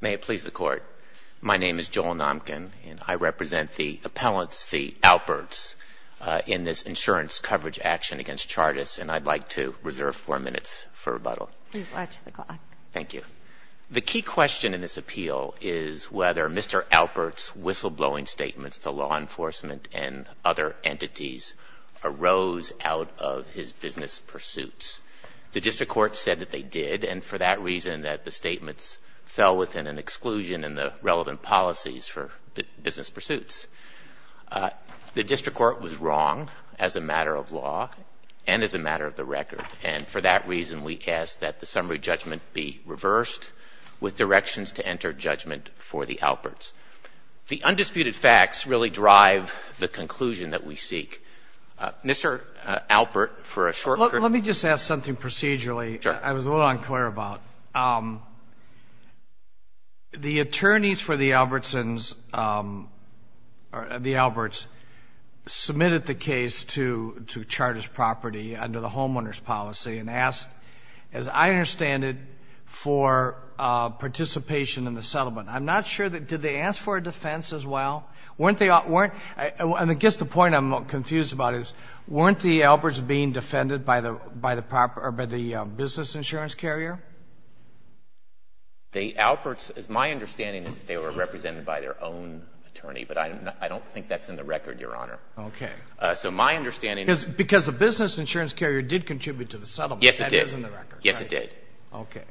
May it please the Court. My name is Joel Nomkin, and I represent the appellants, the Alperts, in this insurance coverage action against Chartis, and I'd like to reserve four minutes for rebuttal. Please watch the clock. Thank you. The key question in this appeal is whether Mr. Alpert's whistleblowing statements to law enforcement and other entities arose out of his business pursuits. The district court said that they did, and for that reason, that the statements fell within an exclusion in the relevant policies for business pursuits. The district court was wrong as a matter of law and as a matter of the record, and for that reason, we ask that the summary judgment be reversed with directions to enter judgment for the Alperts. The undisputed facts really drive the conclusion that we seek. Well, let me just ask something procedurally that I was a little unclear about. The attorneys for the Albertsons, or the Alberts, submitted the case to Chartis Property under the homeowner's policy and asked, as I understand it, for participation in the settlement. I'm not sure that, did they ask for a defense as well? I guess the point I'm confused about is, weren't the Alberts being defended by the business insurance carrier? The Alberts, as my understanding is, they were represented by their own attorney, but I don't think that's in the record, Your Honor. Okay. So my understanding is Because the business insurance carrier did contribute to the settlement. Yes, it did. That is in the record. Yes, it did. Okay.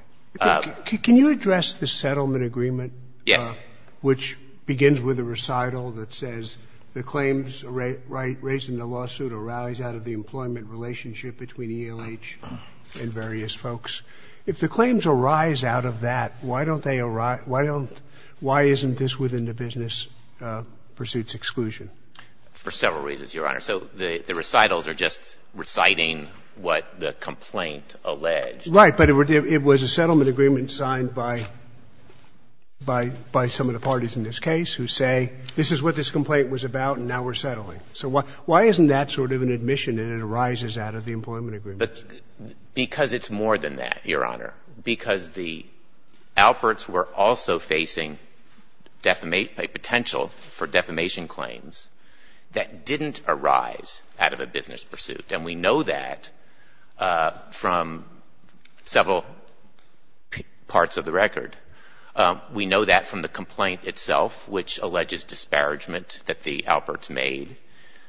Can you address the settlement agreement? Yes. Which begins with a recital that says, The claims raised in the lawsuit arise out of the employment relationship between ELH and various folks. If the claims arise out of that, why isn't this within the business pursuits exclusion? For several reasons, Your Honor. So the recitals are just reciting what the complaint alleged. Right, but it was a settlement agreement signed by some of the parties in this case who say, This is what this complaint was about, and now we're settling. So why isn't that sort of an admission that it arises out of the employment agreement? Because it's more than that, Your Honor. Because the Alberts were also facing a potential for defamation claims that didn't arise out of a business pursuit. And we know that from several parts of the record. We know that from the complaint itself, which alleges disparagement that the Alberts made,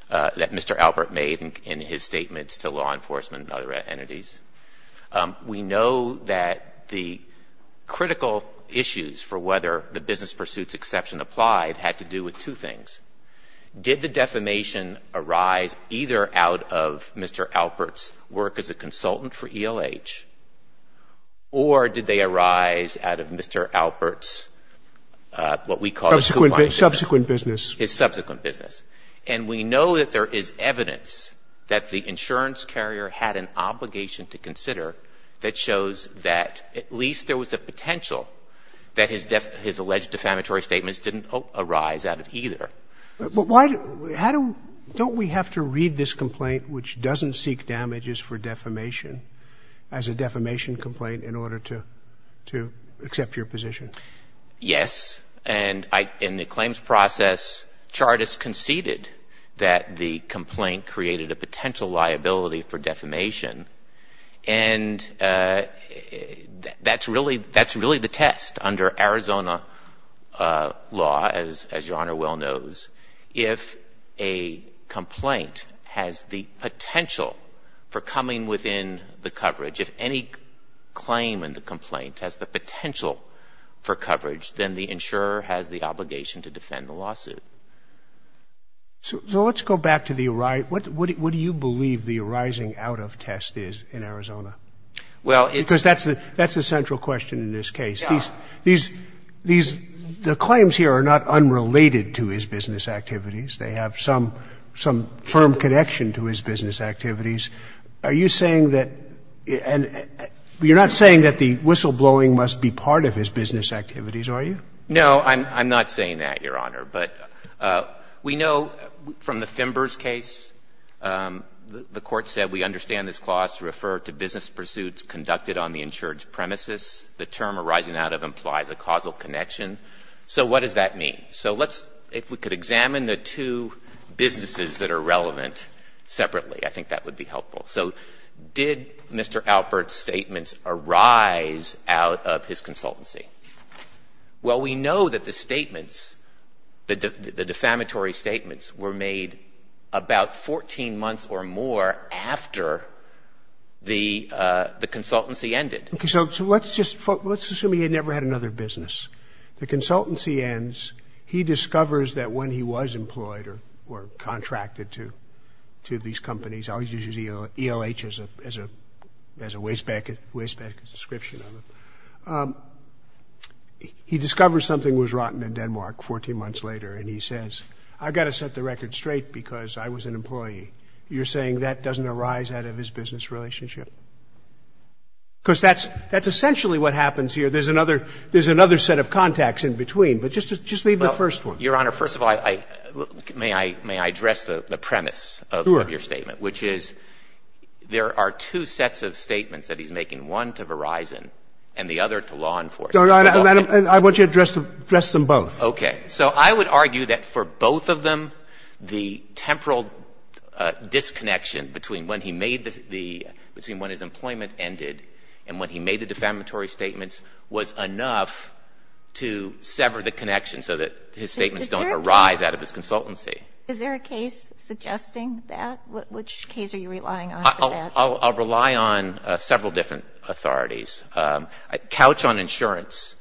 that Mr. Albert made in his statements to law enforcement and other entities. We know that the critical issues for whether the business pursuits exception applied had to do with two things. Did the defamation arise either out of Mr. Alberts' work as a consultant for ELH, or did they arise out of Mr. Alberts' what we call his subsequent business? And we know that there is evidence that the insurance carrier had an obligation to consider that shows that at least there was a potential that his alleged defamatory statements didn't arise out of either. But why don't we have to read this complaint, which doesn't seek damages for defamation, as a defamation complaint in order to accept your position? Yes. And in the claims process, Chartist conceded that the complaint created a potential liability for defamation. And that's really the test under Arizona law, as Your Honor well knows. If a complaint has the potential for coming within the coverage, if any claim in the complaint has the potential for coverage, then the insurer has the obligation to defend the lawsuit. So let's go back to the what do you believe the arising out of test is in Arizona? Well, it's Because that's the central question in this case. These claims here are not unrelated to his business activities. They have some firm connection to his business activities. Are you saying that you're not saying that the whistleblowing must be part of his business activities, are you? No, I'm not saying that, Your Honor. But we know from the Fimbers case, the Court said we understand this clause to refer to business pursuits conducted on the insured's premises. The term arising out of implies a causal connection. So what does that mean? So let's, if we could examine the two businesses that are relevant separately, I think that would be helpful. So did Mr. Alpert's statements arise out of his consultancy? Well, we know that the statements, the defamatory statements, were made about 14 months or more after the consultancy ended. Okay. So let's just, let's assume he had never had another business. The consultancy ends. He discovers that when he was employed or contracted to these companies, he always uses ELH as a wastebasket description of them. He discovers something was rotten in Denmark 14 months later, and he says, I've got to set the record straight because I was an employee. You're saying that doesn't arise out of his business relationship? Because that's essentially what happens here. There's another set of contacts in between. But just leave the first one. Your Honor, first of all, may I address the premise of your statement? Which is, there are two sets of statements that he's making, one to Verizon and the other to law enforcement. And I want you to address them both. Okay. So I would argue that for both of them, the temporal disconnection between when he made the, between when his employment ended and when he made the defamatory statements was enough to sever the connection so that his statements don't arise out of his consultancy. Is there a case suggesting that? Which case are you relying on for that? I'll rely on several different authorities. Couch on Insurance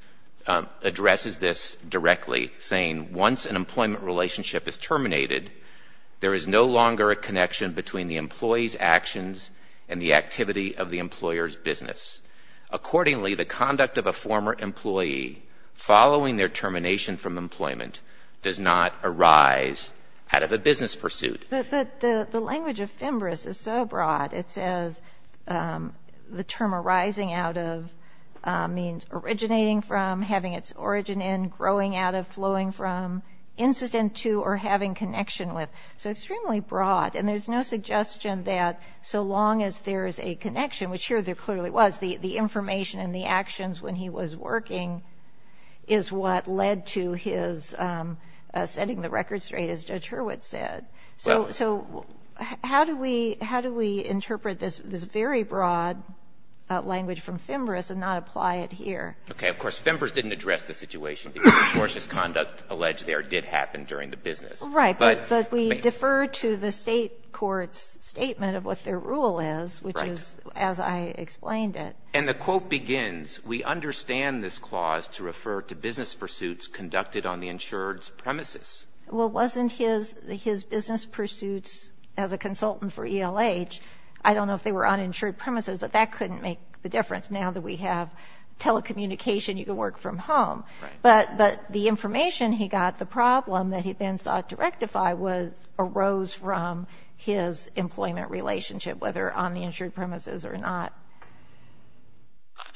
addresses this directly, saying, once an employment relationship is terminated, there is no longer a connection between the employee's actions and the activity of the employer's business. Accordingly, the conduct of a former employee following their termination from out of a business pursuit. But the language of FEMBRIS is so broad. It says the term arising out of means originating from, having its origin in, growing out of, flowing from, incident to, or having connection with. So extremely broad. And there's no suggestion that so long as there is a connection, which here there clearly was, the information and the actions when he was working is what led to his setting the record straight, as Judge Hurwitz said. So how do we interpret this very broad language from FEMBRIS and not apply it here? Okay. Of course, FEMBRIS didn't address the situation because tortious conduct alleged there did happen during the business. Right. But we defer to the State court's statement of what their rule is, which is as I explained it. And the quote begins, we understand this clause to refer to business pursuits conducted on the insured's premises. Well, wasn't his business pursuits as a consultant for ELH, I don't know if they were on insured premises, but that couldn't make the difference now that we have telecommunication, you can work from home. Right. But the information he got, the problem that he then sought to rectify, arose from his employment relationship, whether on the insured premises or not.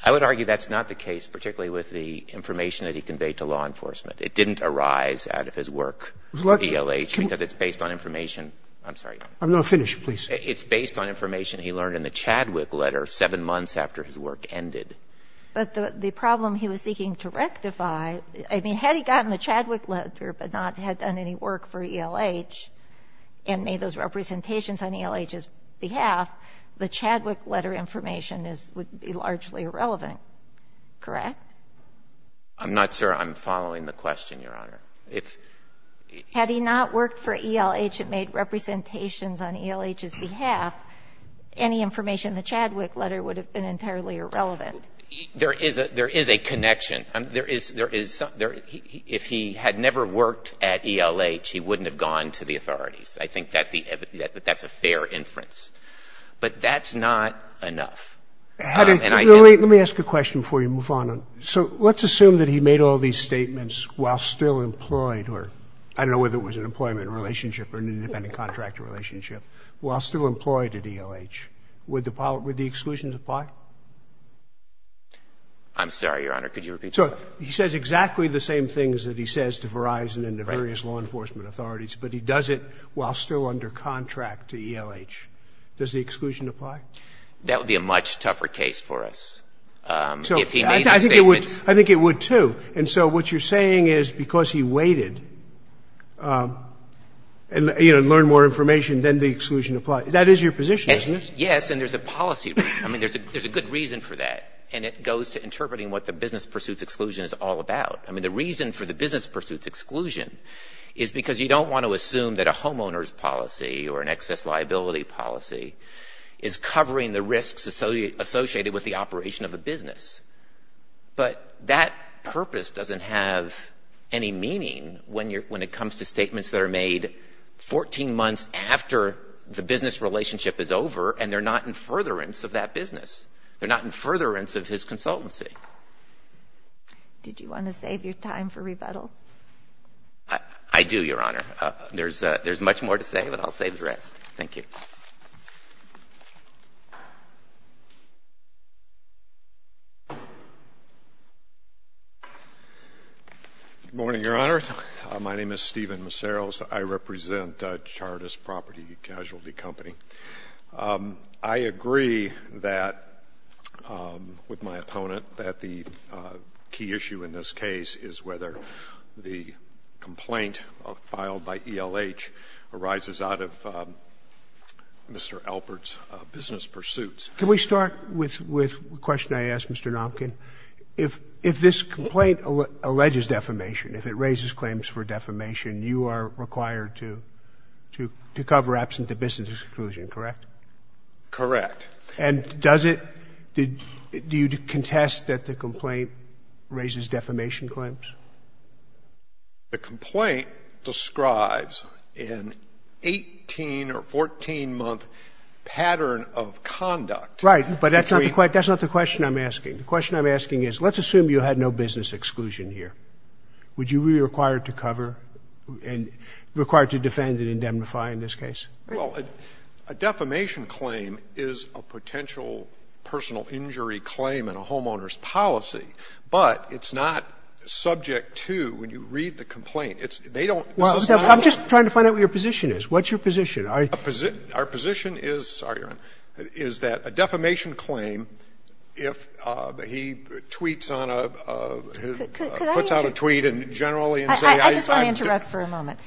I would argue that's not the case, particularly with the information that he conveyed to law enforcement. It didn't arise out of his work at ELH because it's based on information. I'm sorry. I'm not finished. Please. It's based on information he learned in the Chadwick letter 7 months after his work ended. But the problem he was seeking to rectify, I mean, had he gotten the Chadwick letter but not had done any work for ELH and made those representations on ELH's behalf, the Chadwick letter information would be largely irrelevant. Correct? I'm not sure I'm following the question, Your Honor. Had he not worked for ELH and made representations on ELH's behalf, any information in the Chadwick letter would have been entirely irrelevant. There is a connection. If he had never worked at ELH, he wouldn't have gone to the authorities. I think that's a fair inference. But that's not enough. And I don't know. Let me ask a question before you move on. So let's assume that he made all these statements while still employed, or I don't know whether it was an employment relationship or an independent contractor relationship, while still employed at ELH. Would the exclusions apply? I'm sorry, Your Honor. Could you repeat that? So he says exactly the same things that he says to Verizon and the various law enforcement authorities, but he does it while still under contract to ELH. Does the exclusion apply? That would be a much tougher case for us if he made the statements. I think it would, too. And so what you're saying is because he waited and learned more information, then the exclusion applied. That is your position, isn't it? Yes, and there's a policy reason. I mean, there's a good reason for that, and it goes to interpreting what the business pursuits exclusion is all about. I mean, the reason for the business pursuits exclusion is because you don't want to assume that a homeowner's policy or an excess liability policy is covering the risks associated with the operation of a business. But that purpose doesn't have any meaning when it comes to statements that are made 14 months after the business relationship is over, and they're not in furtherance of that business. They're not in furtherance of his consultancy. Did you want to save your time for rebuttal? I do, Your Honor. There's much more to say, but I'll save the rest. Thank you. Good morning, Your Honor. My name is Stephen Maceros. I represent Chartist Property Casualty Company. I agree that, with my opponent, that the key issue in this case is whether the complaint filed by ELH arises out of Mr. Alpert's business pursuits. Can we start with the question I asked, Mr. Nopkin? If this complaint alleges defamation, if it raises claims for defamation, you are required to cover absent the business exclusion, correct? Correct. And does it do you contest that the complaint raises defamation claims? The complaint describes an 18- or 14-month pattern of conduct. Right, but that's not the question I'm asking. The question I'm asking is, let's assume you had no business exclusion here. Would you be required to cover and required to defend and indemnify in this case? Well, a defamation claim is a potential personal injury claim in a homeowner's policy, but it's not subject to, when you read the complaint, it's they don't Well, I'm just trying to find out what your position is. What's your position? Our position is, sorry, Your Honor, is that a defamation claim, if he tweets on a, puts out a tweet and generally and says I just want to interrupt for a moment.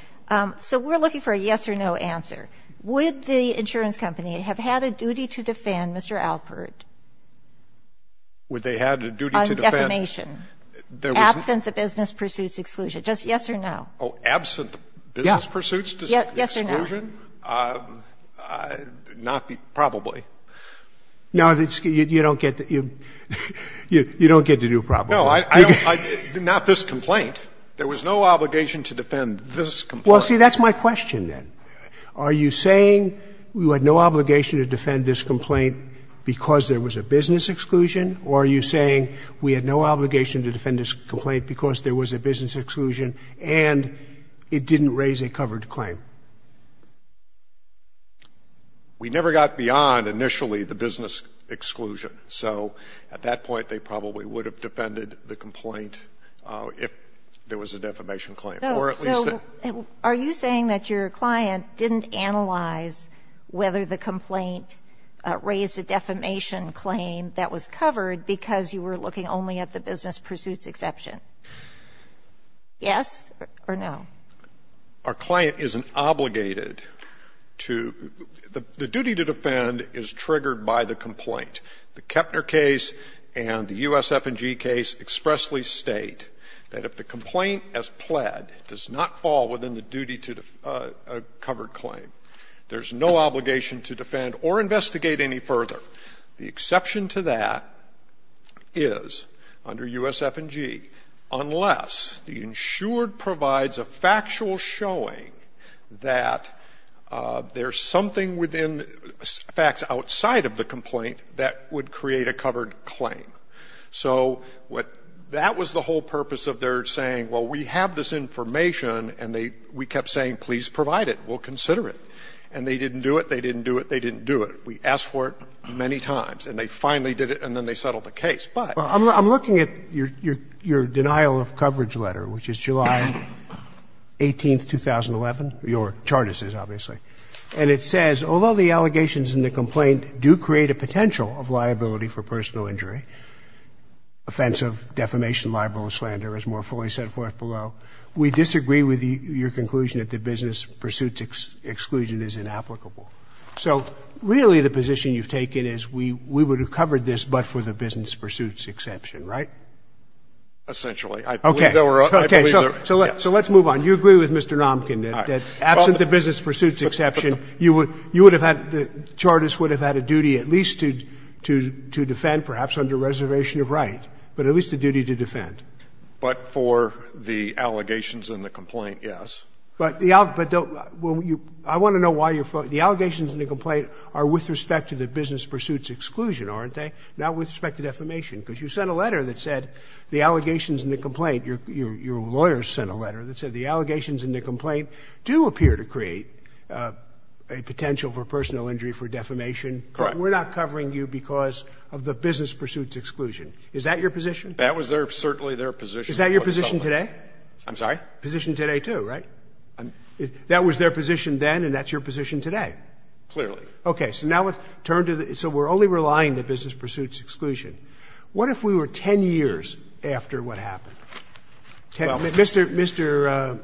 So we're looking for a yes or no answer. Would the insurance company have had a duty to defend Mr. Alpert? Would they had a duty to defend On defamation. Absent the business pursuits exclusion. Just yes or no. Oh, absent the business pursuits exclusion? Yes or no. Not the, probably. No, you don't get the, you don't get to do probably. No, I don't, not this complaint. There was no obligation to defend this complaint. Well, see, that's my question then. Are you saying you had no obligation to defend this complaint because there was a business exclusion, or are you saying we had no obligation to defend this complaint because there was a business exclusion and it didn't raise a covered claim? We never got beyond initially the business exclusion. So at that point, they probably would have defended the complaint if there was a defamation claim or at least a. So are you saying that your client didn't analyze whether the complaint raised a defamation claim that was covered because you were looking only at the business pursuits exception? Yes or no? Our client isn't obligated to, the duty to defend is triggered by the complaint. The Kepner case and the U.S. F&G case expressly state that if the complaint as pled does not fall within the duty to a covered claim, there's no obligation to defend or investigate any further. The exception to that is under U.S. F&G, unless the insured provides a factual showing that there's something within facts outside of the complaint that would create a covered claim. So that was the whole purpose of their saying, well, we have this information and they, we kept saying please provide it, we'll consider it. And they didn't do it, they didn't do it, they didn't do it. We asked for it many times and they finally did it and then they settled the case. Well, I'm looking at your denial of coverage letter, which is July 18th, 2011. Your chart is this, obviously. And it says, although the allegations in the complaint do create a potential of liability for personal injury, offensive, defamation, libel and slander is more fully set forth below. We disagree with your conclusion that the business pursuits exclusion is inapplicable. So really the position you've taken is we would have covered this but for the business pursuits exception, right? Essentially. I believe there were, I believe there were, yes. So let's move on. You agree with Mr. Nomkin that absent the business pursuits exception, you would have had, the chartist would have had a duty at least to defend, perhaps under reservation of right, but at least a duty to defend. But for the allegations in the complaint, yes. But the, I want to know why you're, the allegations in the complaint are with respect to the business pursuits exclusion, aren't they? Not with respect to defamation. Because you sent a letter that said the allegations in the complaint, your lawyers sent a letter that said the allegations in the complaint do appear to create a potential for personal injury for defamation. Correct. But we're not covering you because of the business pursuits exclusion. Is that your position? That was their, certainly their position. Is that your position today? I'm sorry? Position today too, right? That was their position then and that's your position today? Clearly. Okay. So now let's turn to the, so we're only relying on the business pursuits exclusion. What if we were 10 years after what happened? Mr.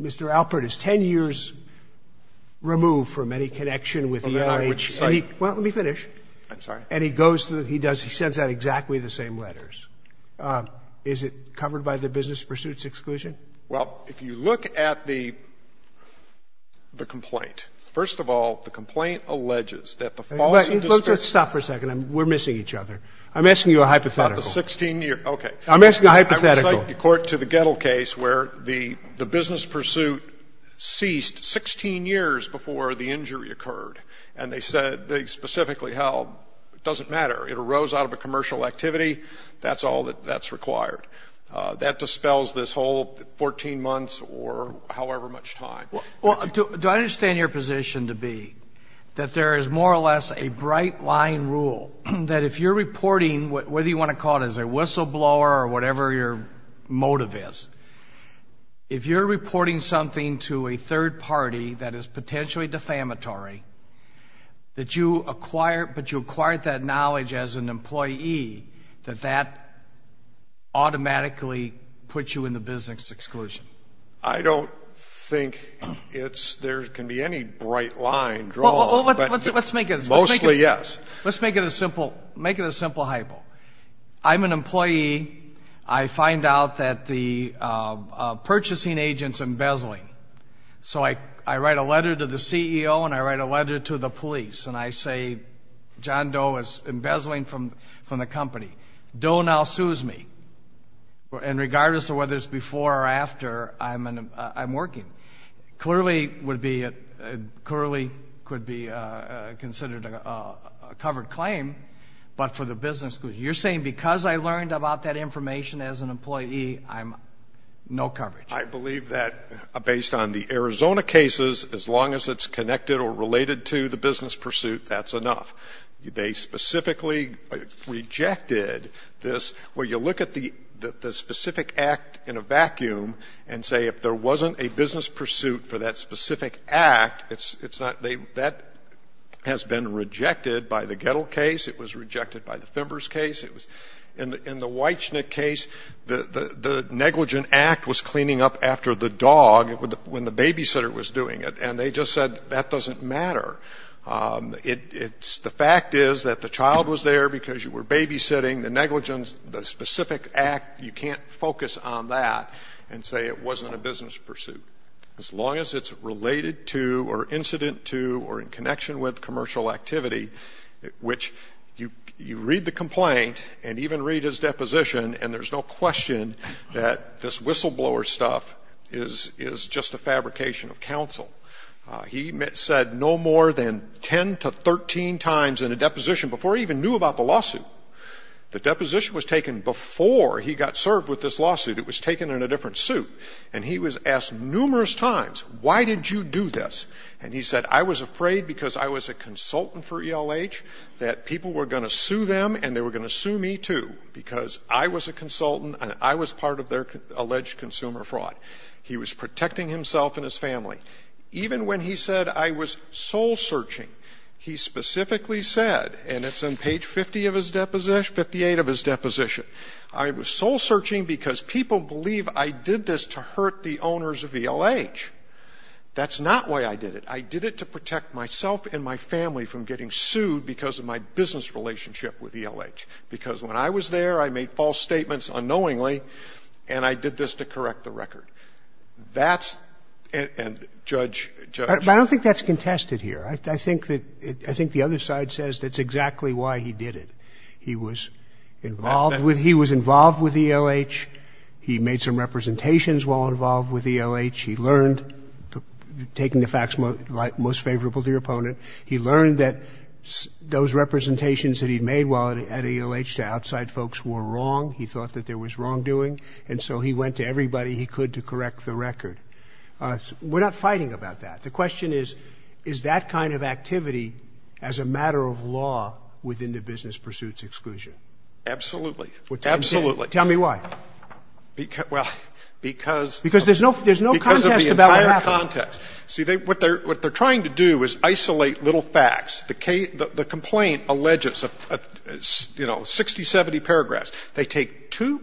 Alpert is 10 years removed from any connection with the NIH. Well, let me finish. I'm sorry. And he goes to, he does, he sends out exactly the same letters. Is it covered by the business pursuits exclusion? Well, if you look at the complaint, first of all, the complaint alleges that the false indiscretion. Stop for a second. We're missing each other. I'm asking you a hypothetical. About the 16-year, okay. I'm asking a hypothetical. I would cite the court to the Gettle case where the business pursuit ceased 16 years before the injury occurred. And they said, they specifically held, it doesn't matter. It arose out of a commercial activity. That's all that's required. That dispels this whole 14 months or however much time. Well, do I understand your position to be that there is more or less a bright line rule that if you're reporting, whether you want to call it as a whistleblower or whatever your motive is, if you're reporting something to a third party that is potentially defamatory, but you acquired that knowledge as an employee, that that automatically puts you in the business exclusion? I don't think there can be any bright line drawn. Well, let's make it a simple hypo. I'm an employee. I find out that the purchasing agent's embezzling. So I write a letter to the CEO and I write a letter to the police and I say, John Doe is embezzling from the company. Doe now sues me. And regardless of whether it's before or after, I'm working. Clearly could be considered a covered claim, but for the business exclusion. You're saying because I learned about that information as an employee, I'm no coverage. I believe that based on the Arizona cases, as long as it's connected or related to the business pursuit, that's enough. They specifically rejected this, where you look at the specific act in a vacuum and say if there wasn't a business pursuit for that specific act, it's not they that has been rejected by the Gettle case. It was rejected by the Fimbers case. In the Weichnick case, the negligent act was cleaning up after the dog when the babysitter was doing it, and they just said that doesn't matter. The fact is that the child was there because you were babysitting. The negligence, the specific act, you can't focus on that and say it wasn't a business pursuit. As long as it's related to or incident to or in connection with commercial activity, which you read the complaint and even read his deposition, and there's no question that this whistleblower stuff is just a fabrication of counsel. He said no more than 10 to 13 times in a deposition before he even knew about the lawsuit. The deposition was taken before he got served with this lawsuit. It was taken in a different suit. And he was asked numerous times, why did you do this? And he said I was afraid because I was a consultant for ELH that people were going to sue them and they were going to sue me, too, because I was a consultant and I was part of their alleged consumer fraud. He was protecting himself and his family. Even when he said I was soul-searching, he specifically said, and it's on page 50 of his deposition, 58 of his deposition, I was soul-searching because people believe I did this to hurt the owners of ELH. That's not why I did it. I did it to protect myself and my family from getting sued because of my business relationship with ELH, because when I was there, I made false statements unknowingly and I did this to correct the record. That's and, Judge, Judge. I don't think that's contested here. I think that, I think the other side says that's exactly why he did it. He was involved with, he was involved with ELH. He made some representations while involved with ELH. He learned, taking the facts most favorable to your opponent, he learned that those representations that he made while at ELH to outside folks were wrong. He thought that there was wrongdoing, and so he went to everybody he could to correct the record. We're not fighting about that. The question is, is that kind of activity as a matter of law within the business pursuits exclusion? Absolutely. Absolutely. Tell me why. Because, well, because. Because there's no contest about what happened. Because of the entire context. See, what they're trying to do is isolate little facts. The complaint alleges, you know, 60, 70 paragraphs. They take two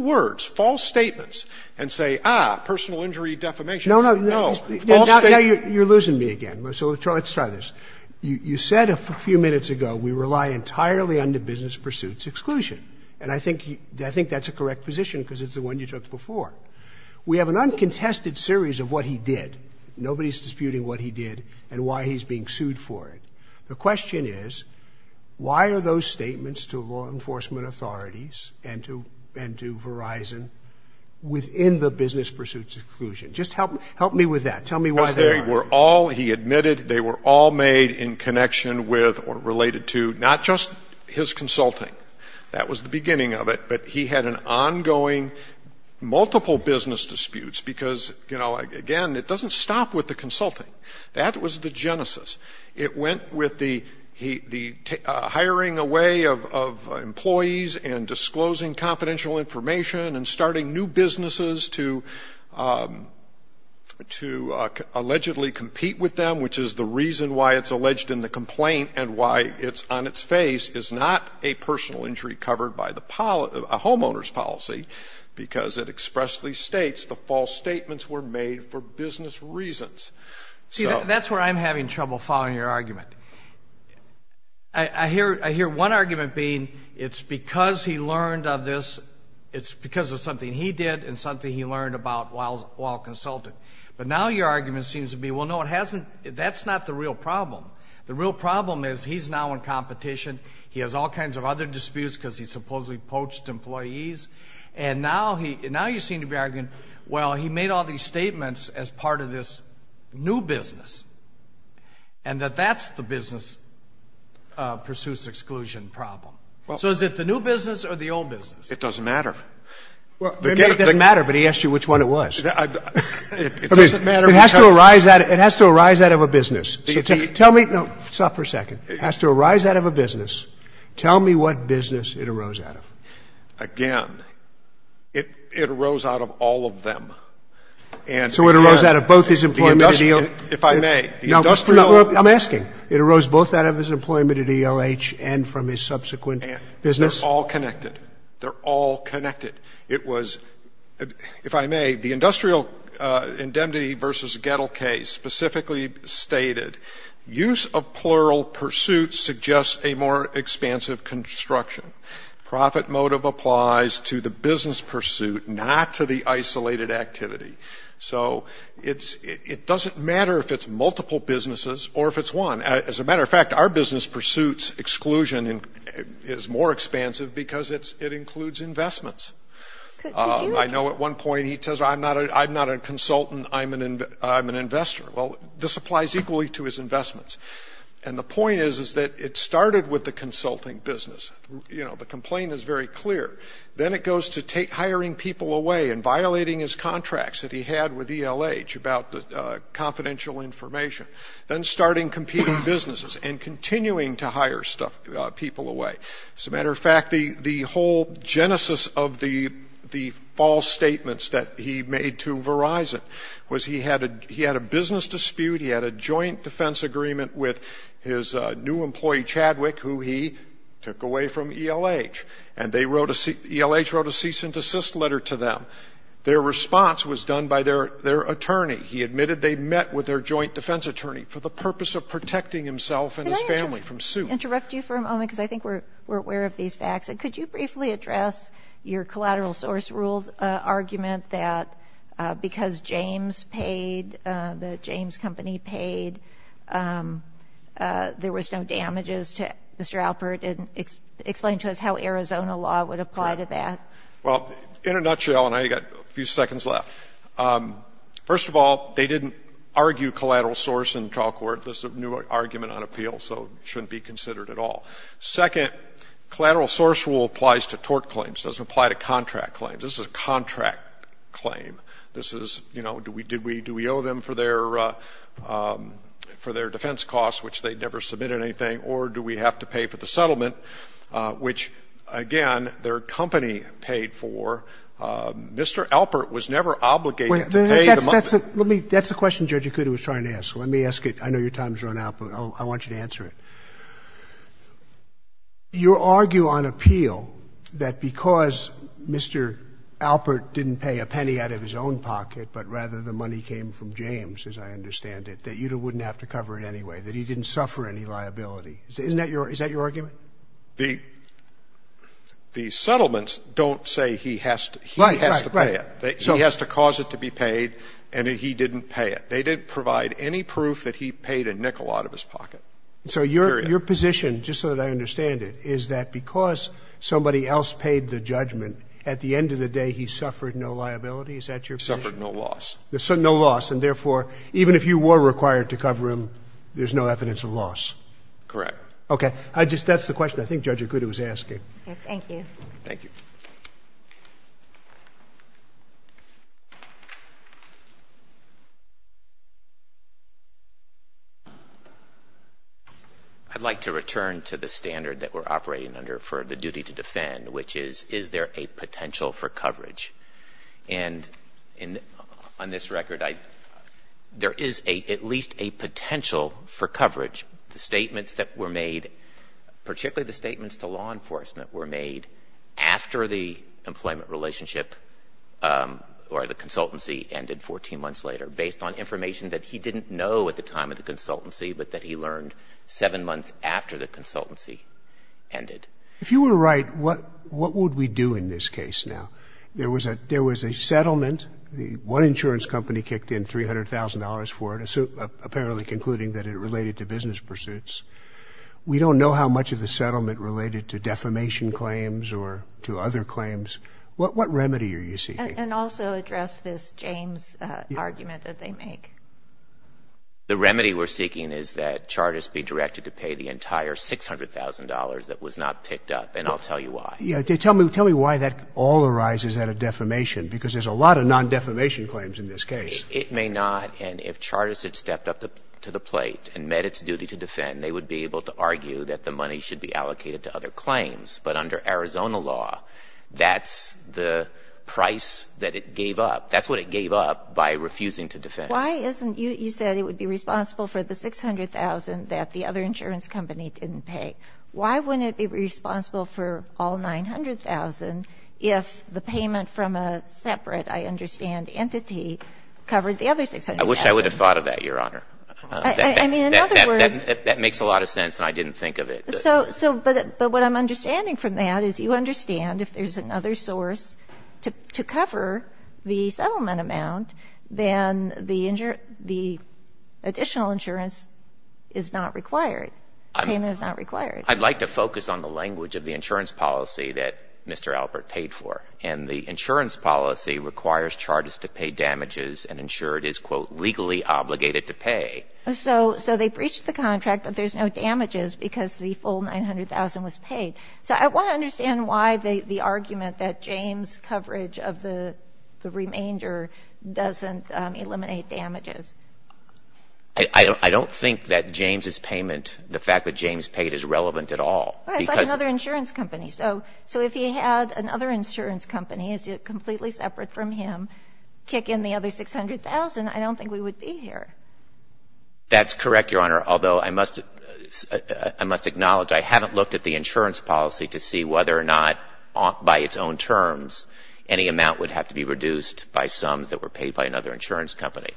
words, false statements, and say, ah, personal injury defamation. No, no. False statements. You're losing me again. So let's try this. You said a few minutes ago we rely entirely on the business pursuits exclusion, and I think that's a correct position because it's the one you took before. We have an uncontested series of what he did. Nobody's disputing what he did and why he's being sued for it. The question is, why are those statements to law enforcement authorities and to Verizon within the business pursuits exclusion? Just help me with that. Tell me why they are. Because they were all, he admitted, they were all made in connection with or related to not just his consulting. That was the beginning of it. But he had an ongoing multiple business disputes because, you know, again, it doesn't stop with the consulting. That was the genesis. It went with the hiring away of employees and disclosing confidential information and starting new businesses to allegedly compete with them, which is the reason why it's alleged in the complaint and why it's on its face, is not a personal injury covered by a homeowner's policy because it expressly states the false statements were made for business reasons. See, that's where I'm having trouble following your argument. I hear one argument being it's because he learned of this, it's because of something he did and something he learned about while consulting. But now your argument seems to be, well, no, it hasn't, that's not the real problem. The real problem is he's now in competition. He has all kinds of other disputes because he supposedly poached employees. And now you seem to be arguing, well, he made all these statements as part of this new business and that that's the business pursuits exclusion problem. So is it the new business or the old business? It doesn't matter. It doesn't matter, but he asked you which one it was. It doesn't matter. It has to arise out of a business. So tell me, no, stop for a second. It has to arise out of a business. Tell me what business it arose out of. Again, it arose out of all of them. So it arose out of both his employment at ELH? If I may, the industrial. I'm asking. It arose both out of his employment at ELH and from his subsequent business? They're all connected. They're all connected. It was, if I may, the industrial indemnity versus Gettle case specifically stated, use of plural pursuits suggests a more expansive construction. Profit motive applies to the business pursuit, not to the isolated activity. So it doesn't matter if it's multiple businesses or if it's one. As a matter of fact, our business pursuits exclusion is more expansive because it includes investments. I know at one point he says, I'm not a consultant. I'm an investor. Well, this applies equally to his investments. And the point is, is that it started with the consulting business. You know, the complaint is very clear. Then it goes to hiring people away and violating his contracts that he had with ELH about the confidential information, then starting competing businesses and continuing to hire people away. As a matter of fact, the whole genesis of the false statements that he made to Verizon was he had a business dispute, he had a joint defense agreement with his new employee, Chadwick, who he took away from ELH. And ELH wrote a cease and desist letter to them. Their response was done by their attorney. He admitted they met with their joint defense attorney for the purpose of protecting himself and his family from suit. Let me interrupt you for a moment because I think we're aware of these facts. Could you briefly address your collateral source rule argument that because James paid, the James Company paid, there was no damages to Mr. Alpert? And explain to us how Arizona law would apply to that. Well, in a nutshell, and I've got a few seconds left, first of all, they didn't argue collateral source in trial court. This is a new argument on appeal, so it shouldn't be considered at all. Second, collateral source rule applies to tort claims. It doesn't apply to contract claims. This is a contract claim. This is, you know, do we owe them for their defense costs, which they never submitted anything, or do we have to pay for the settlement, which, again, their company paid for. Mr. Alpert was never obligated to pay the money. That's the question Judge Akuta was trying to ask. Let me ask it. I know your time's run out, but I want you to answer it. You argue on appeal that because Mr. Alpert didn't pay a penny out of his own pocket, but rather the money came from James, as I understand it, that you wouldn't have to cover it anyway, that he didn't suffer any liability. Isn't that your – is that your argument? The settlements don't say he has to pay it. He has to cause it to be paid, and he didn't pay it. They didn't provide any proof that he paid a nickel out of his pocket. Period. So your position, just so that I understand it, is that because somebody else paid the judgment, at the end of the day he suffered no liability? Is that your position? Suffered no loss. No loss. And therefore, even if you were required to cover him, there's no evidence of loss? Correct. Okay. I just – that's the question I think Judge Akuta was asking. Okay. Thank you. I'd like to return to the standard that we're operating under for the duty to defend, which is, is there a potential for coverage? And on this record, there is at least a potential for coverage. The statements that were made, particularly the statements to law enforcement, were made after the employment relationship or the consultancy ended 14 months later, based on information that he didn't know at the time of the consultancy, but that he learned seven months after the consultancy ended. If you were right, what would we do in this case now? There was a settlement. One insurance company kicked in $300,000 for it, apparently concluding that it related to business pursuits. We don't know how much of the settlement related to defamation claims or to other claims. What remedy are you seeking? And also address this James argument that they make. The remedy we're seeking is that Chartist be directed to pay the entire $600,000 that was not picked up, and I'll tell you why. Tell me why that all arises out of defamation, because there's a lot of non-defamation claims in this case. It may not. And if Chartist had stepped up to the plate and met its duty to defend, they would be able to argue that the money should be allocated to other claims. But under Arizona law, that's the price that it gave up. That's what it gave up by refusing to defend. Why isn't you said it would be responsible for the $600,000 that the other insurance company didn't pay. Why wouldn't it be responsible for all $900,000 if the payment from a separate, I understand, entity covered the other $600,000? I wish I would have thought of that, Your Honor. I mean, in other words. That makes a lot of sense, and I didn't think of it. But what I'm understanding from that is you understand if there's another source to cover the settlement amount, then the additional insurance is not required. The payment is not required. I'd like to focus on the language of the insurance policy that Mr. Albert paid for. And the insurance policy requires Chartist to pay damages and insure it is, quote, legally obligated to pay. So they breached the contract, but there's no damages because the full $900,000 was paid. So I want to understand why the argument that James' coverage of the remainder doesn't eliminate damages. I don't think that James' payment, the fact that James paid is relevant at all. It's like another insurance company. So if he had another insurance company, completely separate from him, kick in the other $600,000, I don't think we would be here. That's correct, Your Honor, although I must acknowledge I haven't looked at the insurance policy to see whether or not by its own terms any amount would have to be reduced by sums that were paid by another insurance company.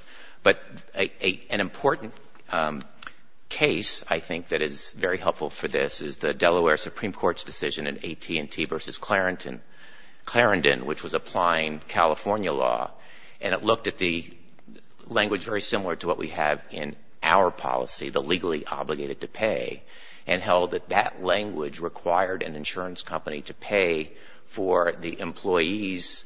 But an important case, I think, that is very helpful for this is the Delaware Supreme Court's decision in AT&T v. Clarendon, which was applying California law, and it looked at the language very similar to what we have in our policy, the legally obligated to pay, and held that that language required an insurance company to pay for the employee's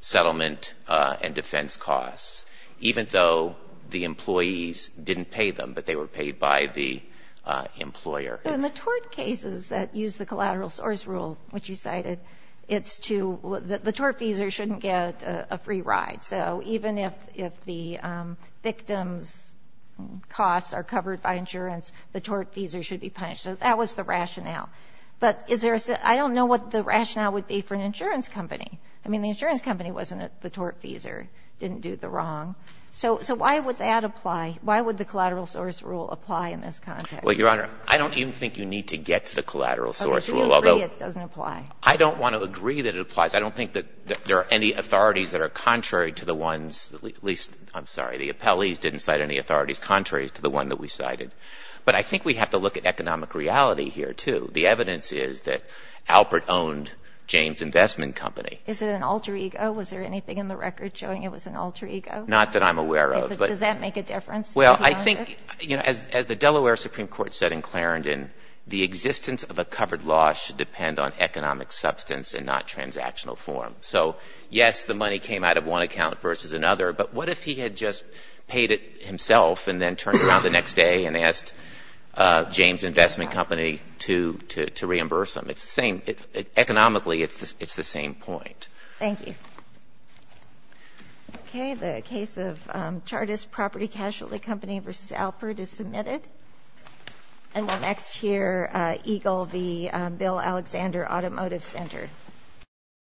settlement and defense costs, even though the employees didn't pay them, but they were paid by the employer. So in the tort cases that use the collateral source rule, which you cited, it's true that the tortfeasor shouldn't get a free ride. So even if the victim's costs are covered by insurance, the tortfeasor should be punished. So that was the rationale. But is there a — I don't know what the rationale would be for an insurance company. I mean, the insurance company wasn't the tortfeasor, didn't do the wrong. So why would that apply? Why would the collateral source rule apply in this context? Well, Your Honor, I don't even think you need to get to the collateral source rule, although — Okay. I don't think it applies. I don't think that there are any authorities that are contrary to the ones at least — I'm sorry, the appellees didn't cite any authorities contrary to the one that we cited. But I think we have to look at economic reality here, too. The evidence is that Alpert owned Jane's Investment Company. Is it an alter ego? Was there anything in the record showing it was an alter ego? Not that I'm aware of. Does that make a difference? Well, I think, you know, as the Delaware Supreme Court said in Clarendon, the existence of a covered law should depend on economic substance and not transactional form. So, yes, the money came out of one account versus another. But what if he had just paid it himself and then turned around the next day and asked Jane's Investment Company to reimburse him? It's the same. Economically, it's the same point. Thank you. Okay. The case of Chartist Property Casualty Company v. Alpert is submitted. And the next here, Eagle v. Bill Alexander Automotive Center. Thank you.